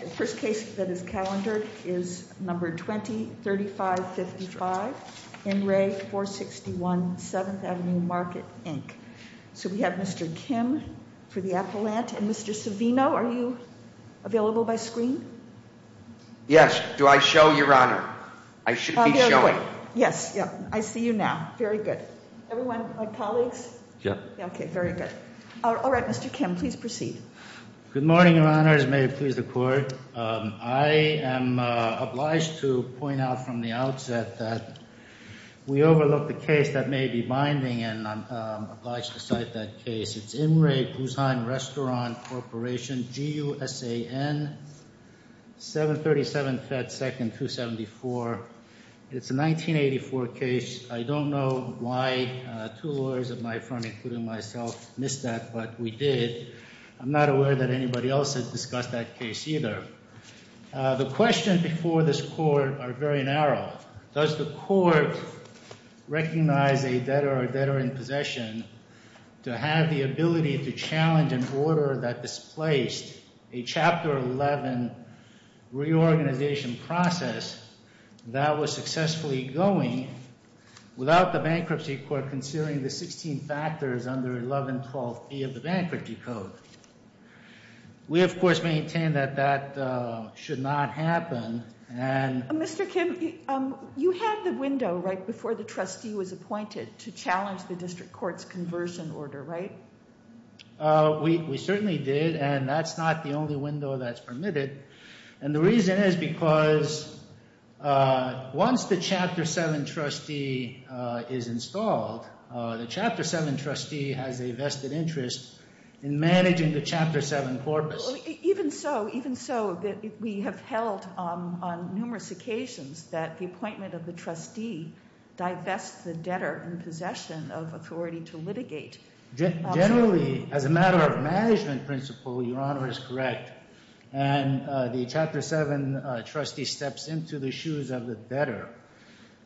The first case that is calendared is number 20-3555 in Re 461 7th Avenue Market, Inc. So we have Mr. Kim for the appellant and Mr. Savino, are you available by screen? Yes, do I show your honor? I should be showing. Yes, yeah, I see you now. Very good. Everyone, my colleagues? Yeah. Okay, very good. All right, Mr. Kim, please proceed. Good morning, your honors. May it please the court. I am obliged to point out from the outset that we overlooked a case that may be binding, and I'm obliged to cite that case. It's Imre Guzan Restaurant Corporation, GUSAN, 737 Fed 2nd 274. It's a 1984 case. I don't know why two lawyers at my firm, including myself, missed that, but we did. I'm not aware that anybody else has discussed that case either. The questions before this court are very narrow. Does the court recognize a debtor or a debtor in possession to have the ability to challenge an order that displaced a Chapter 11 reorganization process that was successfully going without the bankruptcy court after concealing the 16 factors under 1112B of the bankruptcy code? We, of course, maintain that that should not happen. Mr. Kim, you had the window right before the trustee was appointed to challenge the district court's conversion order, right? We certainly did, and that's not the only window that's permitted. And the reason is because once the Chapter 7 trustee is installed, the Chapter 7 trustee has a vested interest in managing the Chapter 7 corpus. Even so, even so, we have held on numerous occasions that the appointment of the trustee divests the debtor in possession of authority to litigate. Generally, as a matter of management principle, Your Honor is correct. And the Chapter 7 trustee steps into the shoes of the debtor.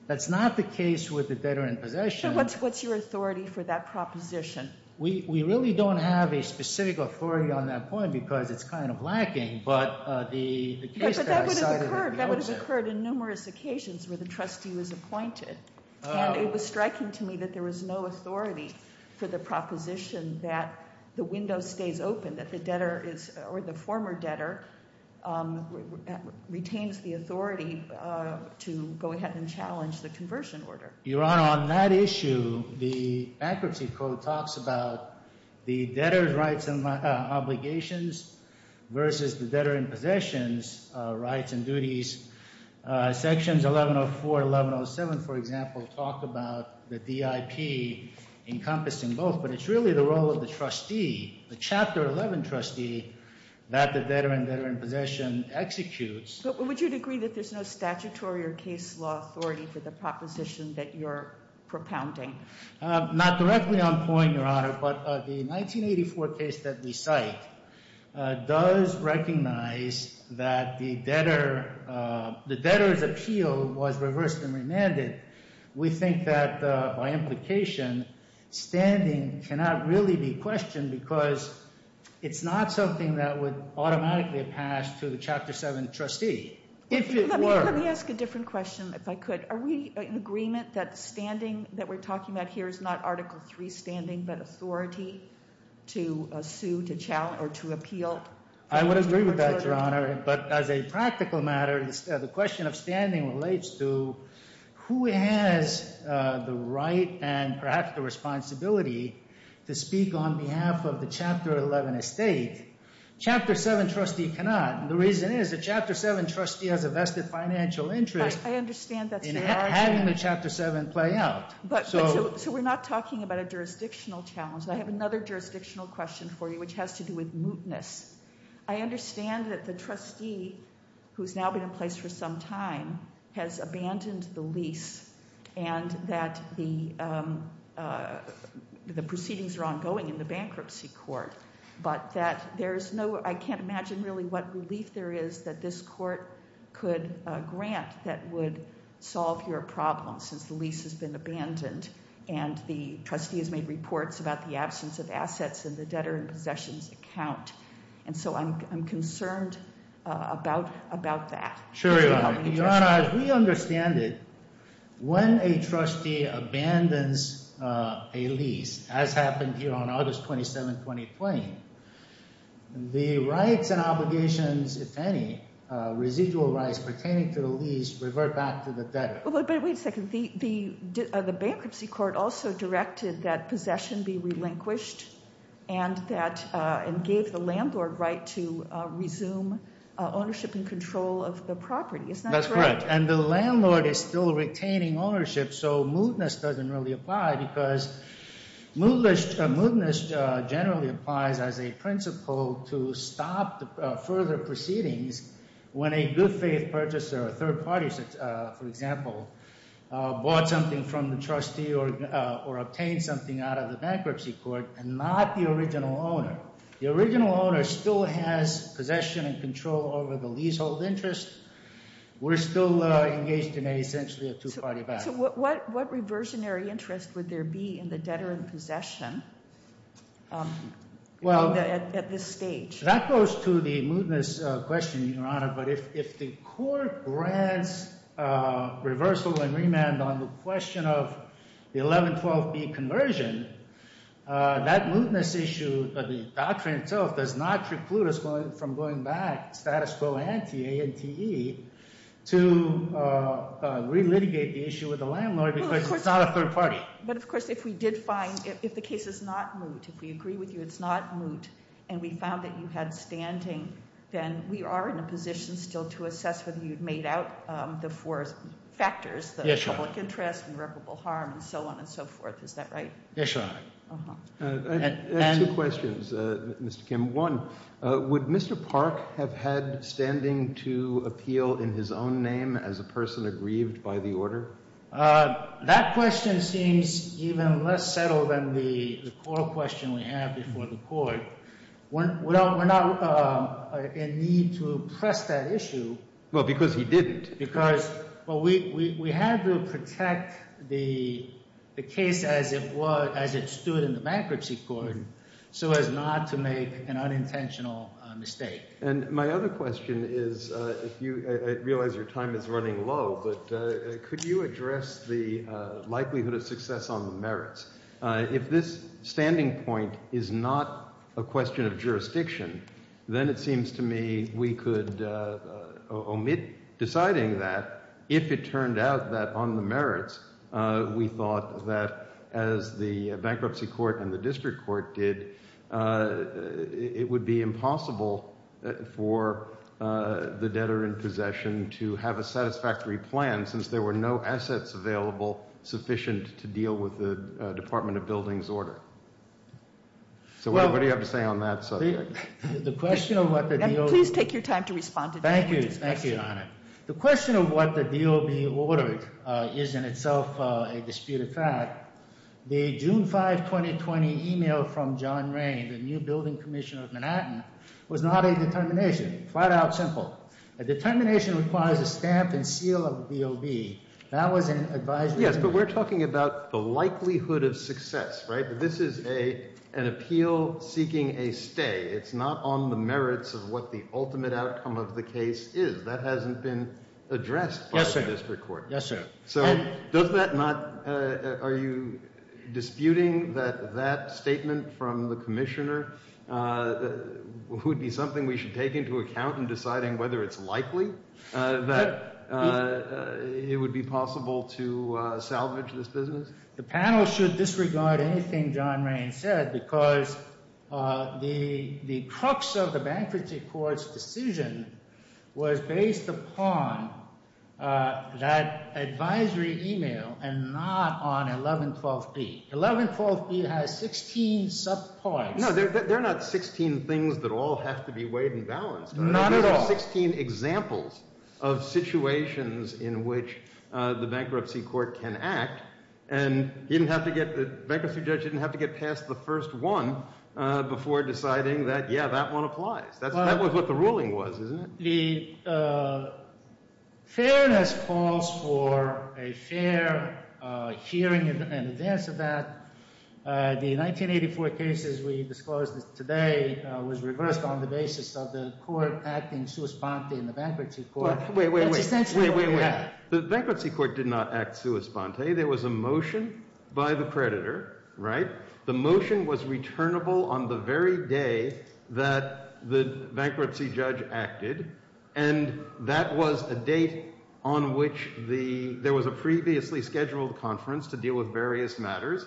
That's not the case with the debtor in possession. What's your authority for that proposition? We really don't have a specific authority on that point because it's kind of lacking, but the case that I cited- But that would have occurred in numerous occasions where the trustee was appointed. And it was striking to me that there was no authority for the proposition that the window stays open, that the debtor is, or the former debtor, retains the authority to go ahead and challenge the conversion order. Your Honor, on that issue, the bankruptcy code talks about the debtor's rights and obligations versus the debtor in possessions' rights and duties. Sections 1104, 1107, for example, talk about the DIP encompassing both, but it's really the role of the trustee. The Chapter 11 trustee that the debtor and debtor in possession executes- But would you agree that there's no statutory or case law authority for the proposition that you're propounding? Not directly on point, Your Honor, but the 1984 case that we cite does recognize that the debtor's appeal was reversed and remanded. We think that by implication, standing cannot really be questioned because it's not something that would automatically pass to the Chapter 7 trustee. If it were- Let me ask a different question, if I could. Are we in agreement that standing that we're talking about here is not Article 3 standing, but authority to sue, to challenge, or to appeal- I would agree with that, Your Honor. But as a practical matter, the question of standing relates to who has the right and perhaps the responsibility to speak on behalf of the Chapter 11 estate. Chapter 7 trustee cannot. The reason is the Chapter 7 trustee has a vested financial interest in having the Chapter 7 play out. So we're not talking about a jurisdictional challenge. I have another jurisdictional question for you, which has to do with mootness. I understand that the trustee, who's now been in place for some time, has abandoned the lease and that the proceedings are ongoing in the bankruptcy court. But that there's no, I can't imagine really what relief there is that this court could grant that would solve your problem, since the lease has been abandoned. And the trustee has made reports about the absence of assets in the debtor and possessions account. And so I'm concerned about that. Sure, Your Honor. Your Honor, as we understand it, when a trustee abandons a lease, as happened here on August 27th, 2020, the rights and obligations, if any, residual rights pertaining to the lease, revert back to the debtor. But wait a second, the bankruptcy court also directed that possession be relinquished. And gave the landlord right to resume ownership and control of the property, is that correct? That's correct. And the landlord is still retaining ownership, so mootness doesn't really apply. Because mootness generally applies as a principle to stop further proceedings. When a good faith purchaser, a third party, for example, bought something from the trustee or obtained something out of the bankruptcy court, and not the original owner. The original owner still has possession and control over the leasehold interest. We're still engaged in essentially a two-party battle. So what reversionary interest would there be in the debtor and possession at this stage? That goes to the mootness question, Your Honor. But if the court grants reversal and remand on the question of the 1112B conversion, that mootness issue of the doctrine itself does not preclude us from going back, status quo ante, A-N-T-E, to re-litigate the issue with the landlord because it's not a third party. But of course, if we did find, if the case is not moot, if we agree with you it's not moot. And we found that you had standing, then we are in a position still to assess whether you've made out the four factors. The public interest, irreparable harm, and so on and so forth. Is that right? Yes, Your Honor. I have two questions, Mr. Kim. One, would Mr. Park have had standing to appeal in his own name as a person aggrieved by the order? That question seems even less settled than the core question we have before the court. We're not in need to press that issue. Well, because he didn't. Because, well, we had to protect the case as it stood in the bankruptcy court. So as not to make an unintentional mistake. And my other question is, I realize your time is running low, but could you address the likelihood of success on the merits? If this standing point is not a question of jurisdiction, then it seems to me we could omit deciding that. If it turned out that on the merits, we thought that as the bankruptcy court and the district court did, it would be impossible for the debtor in possession to have a satisfactory plan, since there were no assets available sufficient to deal with the Department of Buildings order. So what do you have to say on that subject? The question of what the deal- Please take your time to respond to that. Thank you, thank you, Your Honor. The question of what the deal will be ordered is in itself a disputed fact. The June 5, 2020 email from John Rain, the new building commissioner of Manhattan, was not a determination, flat out simple. A determination requires a stamp and seal of DOB. That was an advisory- Yes, but we're talking about the likelihood of success, right? This is an appeal seeking a stay. It's not on the merits of what the ultimate outcome of the case is. That hasn't been addressed by the district court. Yes, sir. So does that not, are you disputing that that statement from the commissioner would be something we should take into account in deciding whether it's likely that it would be possible to salvage this business? The panel should disregard anything John Rain said, because the crux of the bankruptcy court's decision was based upon that advisory email and not on 1112B. 1112B has 16 subparts. They're not 16 things that all have to be weighed and balanced. Not at all. There's 16 examples of situations in which the bankruptcy court can act, and the bankruptcy judge didn't have to get past the first one before deciding that, yeah, that one applies. That was what the ruling was, isn't it? The fairness calls for a fair hearing in advance of that. The 1984 cases we disclosed today was reversed on the basis of the court acting sua sponte in the bankruptcy court. Wait, wait, wait, wait, wait, wait, wait. The bankruptcy court did not act sua sponte. There was a motion by the creditor, right? The motion was returnable on the very day that the bankruptcy judge acted, and that was a date on which the, there was a previously scheduled conference to deal with various matters,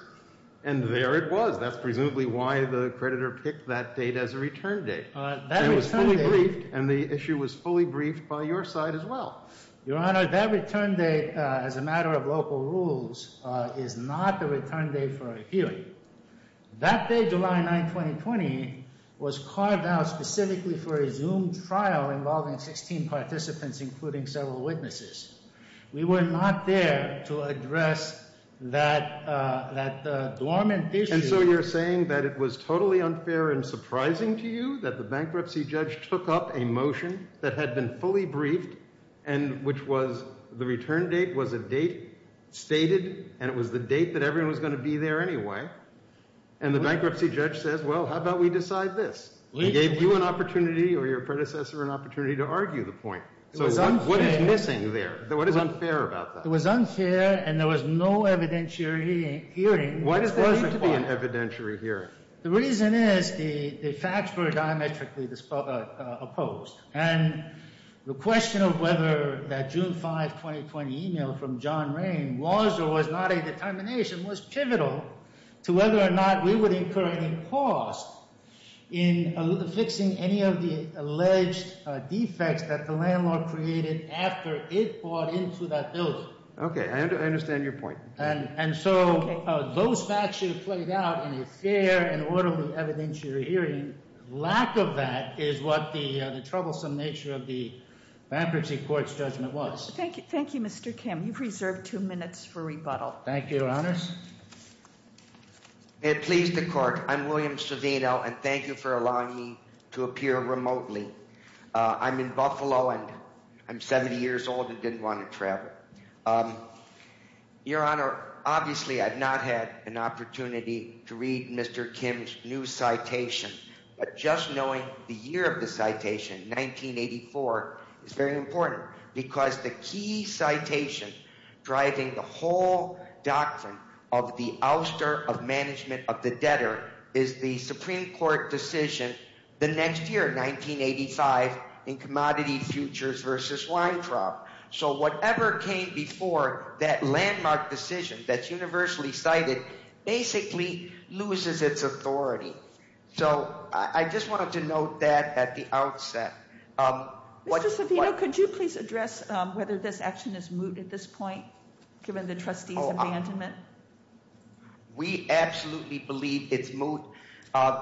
and there it was. That's presumably why the creditor picked that date as a return date. It was fully briefed, and the issue was fully briefed by your side as well. Your Honor, that return date, as a matter of local rules, is not the return date for a hearing. That day, July 9, 2020, was carved out specifically for a Zoom trial involving 16 participants, including several witnesses. We were not there to address that dormant issue. And so you're saying that it was totally unfair and surprising to you that the bankruptcy judge took up a motion that had been fully briefed, and which was the return date was a date stated, and it was the date that everyone was going to be there anyway, and the bankruptcy judge says, well, how about we decide this? We gave you an opportunity or your predecessor an opportunity to argue the point. So what is missing there? What is unfair about that? It was unfair, and there was no evidentiary hearing. Why does there need to be an evidentiary hearing? The reason is the facts were diametrically opposed, and the question of whether that June 5, 2020 email from John Rain was or was not a determination was pivotal to whether or not we would incur any cost in fixing any of the alleged defects that the landlord created after it bought into that building. Okay, I understand your point. And so those facts should have played out in a fair and orderly evidentiary hearing. Lack of that is what the troublesome nature of the bankruptcy court's judgment was. Thank you. Thank you, Mr. Kim. You've reserved two minutes for rebuttal. Thank you, Your Honors. May it please the court, I'm William Savino, and thank you for allowing me to appear remotely. I'm in Buffalo, and I'm 70 years old and didn't want to travel. Your Honor, obviously, I've not had an opportunity to read Mr. Kim's new citation, but just knowing the year of the citation, 1984, is very important, because the key citation driving the whole doctrine of the ouster of management of the debtor is the Supreme Court decision the next year, 1985, in Commodity Futures v. Weintraub. So whatever came before that landmark decision that's universally cited, basically loses its authority. So I just wanted to note that at the outset. Mr. Savino, could you please address whether this action is moot at this point, given the trustee's abandonment? We absolutely believe it's moot.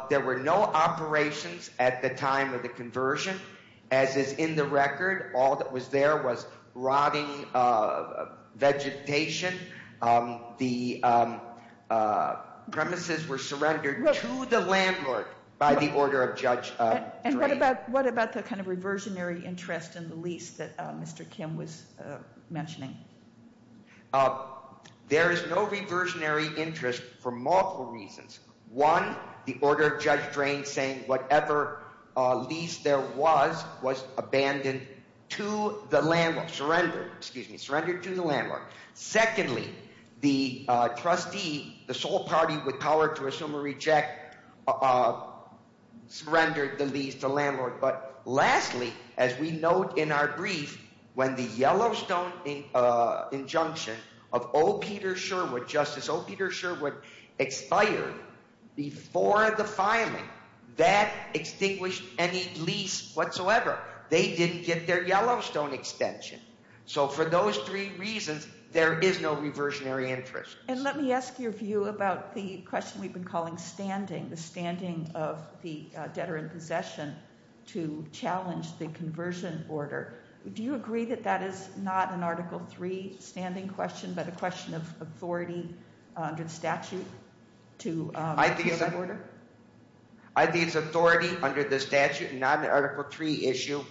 There were no operations at the time of the conversion, as is in the record. All that was there was rotting vegetation. The premises were surrendered to the landlord by the order of Judge Drake. And what about the kind of reversionary interest in the lease that Mr. Kim was mentioning? There is no reversionary interest for multiple reasons. One, the order of Judge Drake saying whatever lease there was, was abandoned to the landlord, surrendered, excuse me, surrendered to the landlord. Secondly, the trustee, the sole party with power to assume or reject, surrendered the lease to the landlord. But lastly, as we note in our brief, when the Yellowstone injunction of O. Peter Sherwood, Justice O. Peter Sherwood, expired before the filing, that extinguished any lease whatsoever. They didn't get their Yellowstone extension. So for those three reasons, there is no reversionary interest. And let me ask your view about the question we've been calling standing, the standing of the debtor in possession to challenge the conversion order. Do you agree that that is not an Article 3 standing question, but a question of authority under the statute to appeal that order? I think it's authority under the statute, not an Article 3 issue.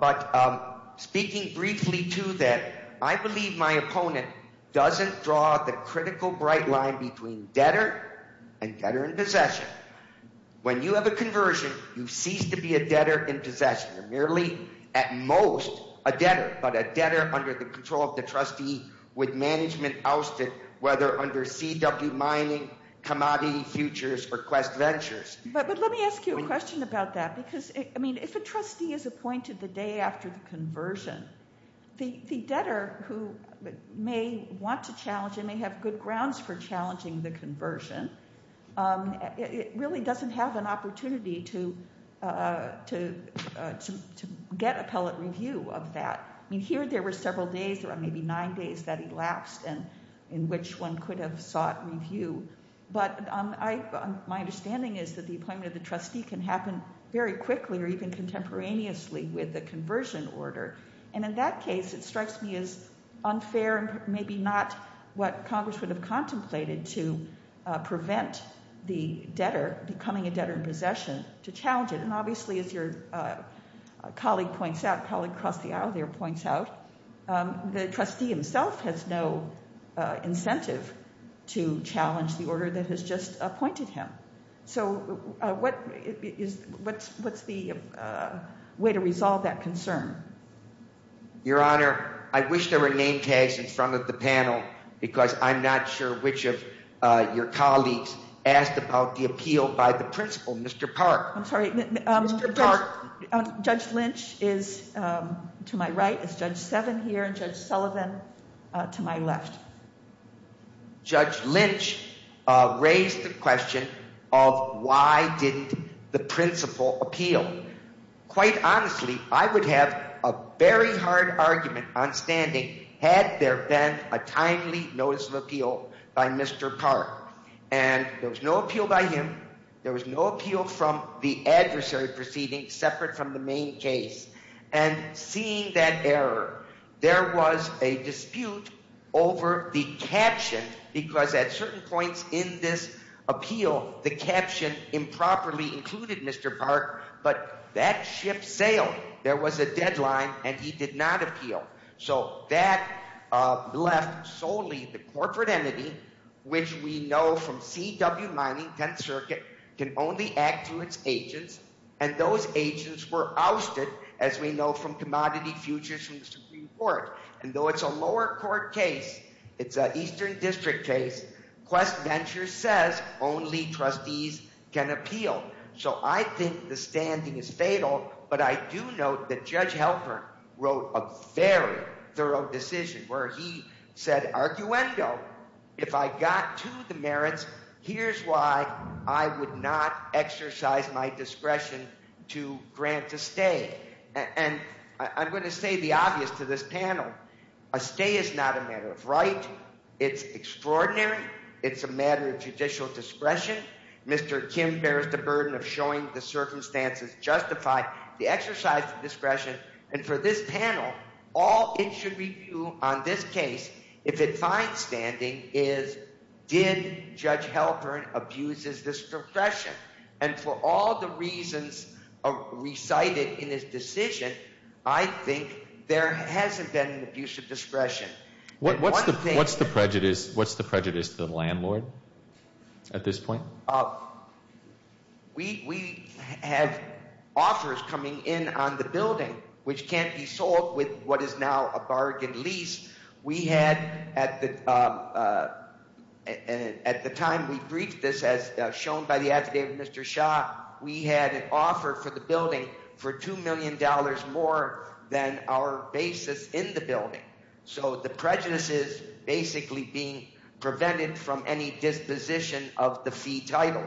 But speaking briefly to that, I believe my opponent doesn't draw the critical bright line between debtor and debtor in possession. When you have a conversion, you cease to be a debtor in possession. You're merely, at most, a debtor, but a debtor under the control of the trustee with management ousted, whether under CW Mining, Commodity Futures, or Quest Ventures. But let me ask you a question about that. If a trustee is appointed the day after the conversion, the debtor who may want to challenge and may have good grounds for challenging the conversion, it really doesn't have an opportunity to get appellate review of that. Here, there were several days, maybe nine days that elapsed in which one could have sought review. But my understanding is that the appointment of the trustee can happen very quickly or even contemporaneously with the conversion order. And in that case, it strikes me as unfair and maybe not what Congress would have contemplated to prevent the debtor becoming a debtor in possession to challenge it. And obviously, as your colleague points out, colleague across the aisle there points out, the trustee himself has no incentive to challenge the order that has just appointed him. So what's the way to resolve that concern? Your Honor, I wish there were name tags in front of the panel because I'm not sure which of your colleagues asked about the appeal by the principal, Mr. Park. I'm sorry. Mr. Park. Judge Lynch is to my right. It's Judge Seven here and Judge Sullivan to my left. Judge Lynch raised the question of why didn't the principal appeal? Quite honestly, I would have a very hard argument on standing had there been a timely notice of appeal by Mr. Park. And there was no appeal by him. There was no appeal from the adversary proceeding separate from the main case. And seeing that error, there was a dispute over the caption because at certain points in this appeal, the caption improperly included Mr. Park. But that ship sailed. There was a deadline and he did not appeal. So that left solely the corporate entity, which we know from C.W. Mining, 10th Circuit, can only act to its agents. And those agents were ousted, as we know from commodity futures from the Supreme Court. And though it's a lower court case, it's an Eastern District case, Quest Ventures says only trustees can appeal. So I think the standing is fatal, but I do note that Judge Helper wrote a very thorough decision where he said, arguendo, if I got to the merits, here's why I would not exercise my discretion to grant a stay. And I'm going to say the obvious to this panel. A stay is not a matter of right. It's extraordinary. It's a matter of judicial discretion. Mr. Kim bears the burden of showing the circumstances justified. The exercise of discretion. And for this panel, all it should review on this case, if it finds standing, is did Judge Helper abuses this discretion? And for all the reasons recited in his decision, I think there hasn't been an abuse of discretion. What's the prejudice to the landlord at this point? We have offers coming in on the building which can't be sold with what is now a bargain lease. At the time we briefed this, as shown by the affidavit of Mr. Shah, we had an offer for the building for $2 million more than our basis in the building. So the prejudice is basically being prevented from any disposition of the fee title.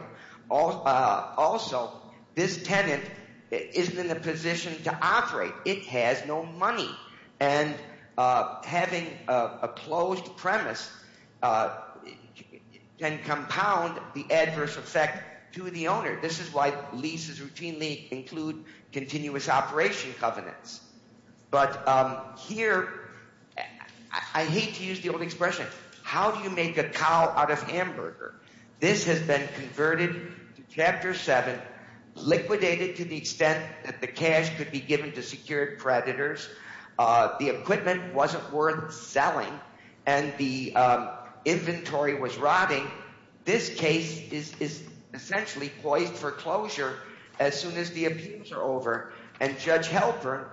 Also, this tenant isn't in a position to operate. It has no money. And having a closed premise can compound the adverse effect to the owner. This is why leases routinely include continuous operation covenants. But here, I hate to use the old expression, how do you make a cow out of hamburger? This has been converted to Chapter 7, liquidated to the extent that the cash could be given to secured predators. The equipment wasn't worth selling. And the inventory was rotting. This case is essentially poised for closure as soon as the abuse are over. And Judge Halpern,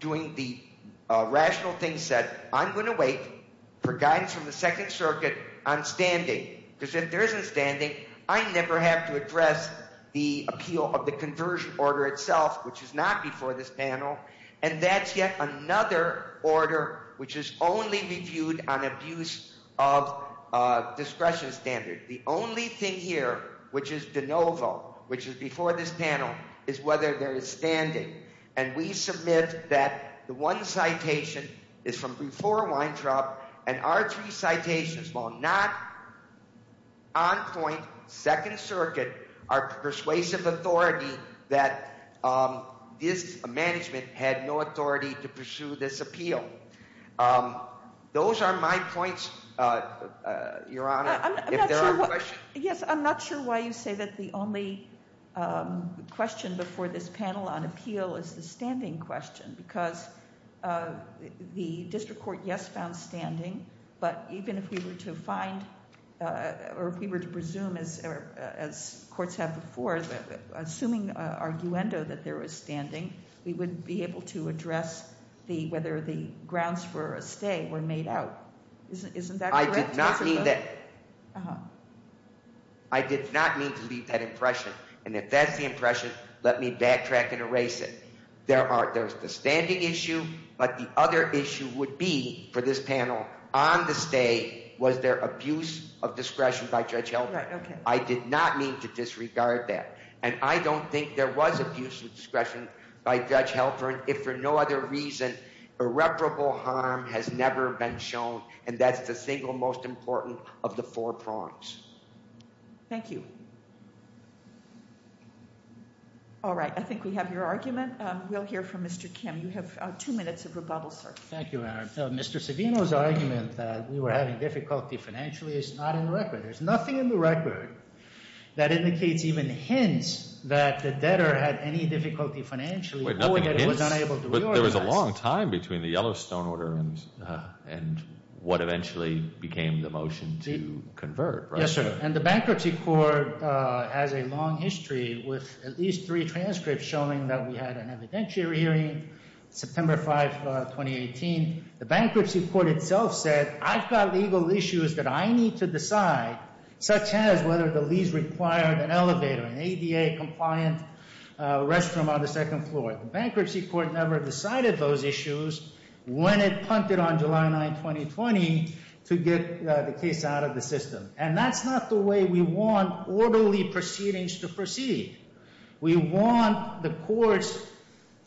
doing the rational thing, said, I'm going to wait for guidance from the Second Circuit on standing. Because if there isn't standing, I never have to address the appeal of the conversion order itself, which is not before this panel. And that's yet another order which is only reviewed on abuse of discretion standard. The only thing here, which is de novo, which is before this panel, is whether there is standing. And we submit that the one citation is from before Weintraub. And our three citations, while not on point, Second Circuit are persuasive authority that this management had no authority to pursue this appeal. Those are my points, Your Honor. I'm not sure why you say that the only question before this panel on appeal is the standing question. Because the district court, yes, found standing. But even if we were to find, or if we were to presume, as courts have before, assuming arguendo that there was standing, we wouldn't be able to address whether the grounds for a stay were made out. Isn't that correct? I did not mean to leave that impression. And if that's the impression, let me backtrack and erase it. There's the standing issue. But the other issue would be, for this panel, on the stay, was there abuse of discretion by Judge Halpern? I did not mean to disregard that. And I don't think there was abuse of discretion by Judge Halpern, if for no other reason irreparable harm has never been shown. And that's the single most important of the four prongs. Thank you. All right. I think we have your argument. We'll hear from Mr. Kim. You have two minutes of rebuttal, sir. Thank you, Your Honor. Mr. Savino's argument that we were having difficulty financially is not in record. There's nothing in the record that indicates, even hints, that the debtor had any difficulty financially. Wait, nothing hints? Between the Yellowstone order and what eventually became the motion to convert, right? Yes, sir. And the Bankruptcy Court has a long history with at least three transcripts showing that we had an evidentiary hearing, September 5, 2018. The Bankruptcy Court itself said, I've got legal issues that I need to decide, such as whether the lease required an elevator, an ADA-compliant restroom on the second floor. The Bankruptcy Court never decided those issues when it punted on July 9, 2020 to get the case out of the system. And that's not the way we want orderly proceedings to proceed. We want the courts,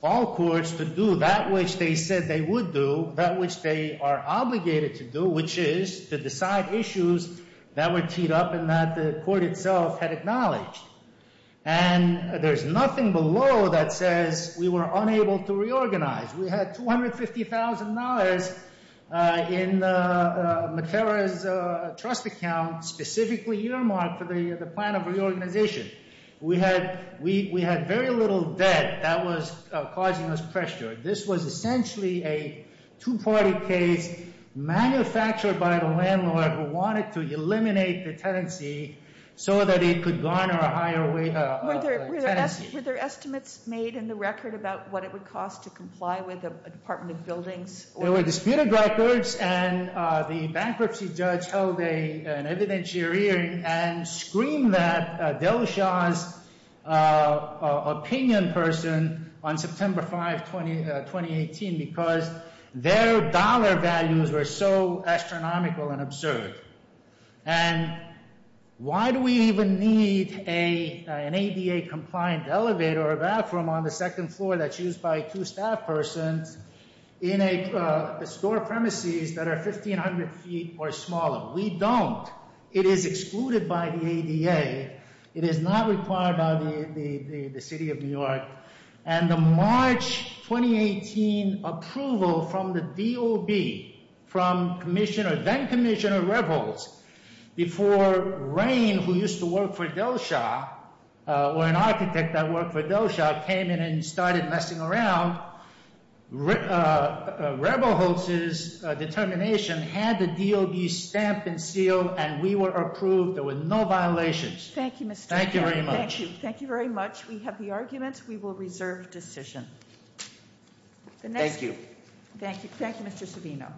all courts, to do that which they said they would do, that which they are obligated to do, which is to decide issues that were teed up and that the court itself had acknowledged. And there's nothing below that says we were unable to reorganize. We had $250,000 in McPhara's trust account, specifically earmarked for the plan of reorganization. We had very little debt that was causing us pressure. This was essentially a two-party case manufactured by the landlord who wanted to eliminate the tenancy so that it could garner a higher tenancy. Were there estimates made in the record about what it would cost to comply with the Department of Buildings? There were disputed records, and the bankruptcy judge held an evidentiary hearing and screamed at Delshaw's opinion person on September 5, 2018, because their dollar values were so astronomical and absurd. And why do we even need an ADA-compliant elevator or bathroom on the second floor that's used by two staff persons in store premises that are 1,500 feet or smaller? We don't. It is excluded by the ADA. It is not required by the City of New York. And the March 2018 approval from the DOB, from then-Commissioner Rebholz, before Rain, who used to work for Delshaw, or an architect that worked for Delshaw, came in and started messing around, Rebholz's determination had the DOB stamp and seal, and we were approved. There were no violations. Thank you, Mr. Chairman. Thank you very much. Thank you very much. We have the arguments. We will reserve decision. Thank you. Thank you. Thank you, Mr. Savino.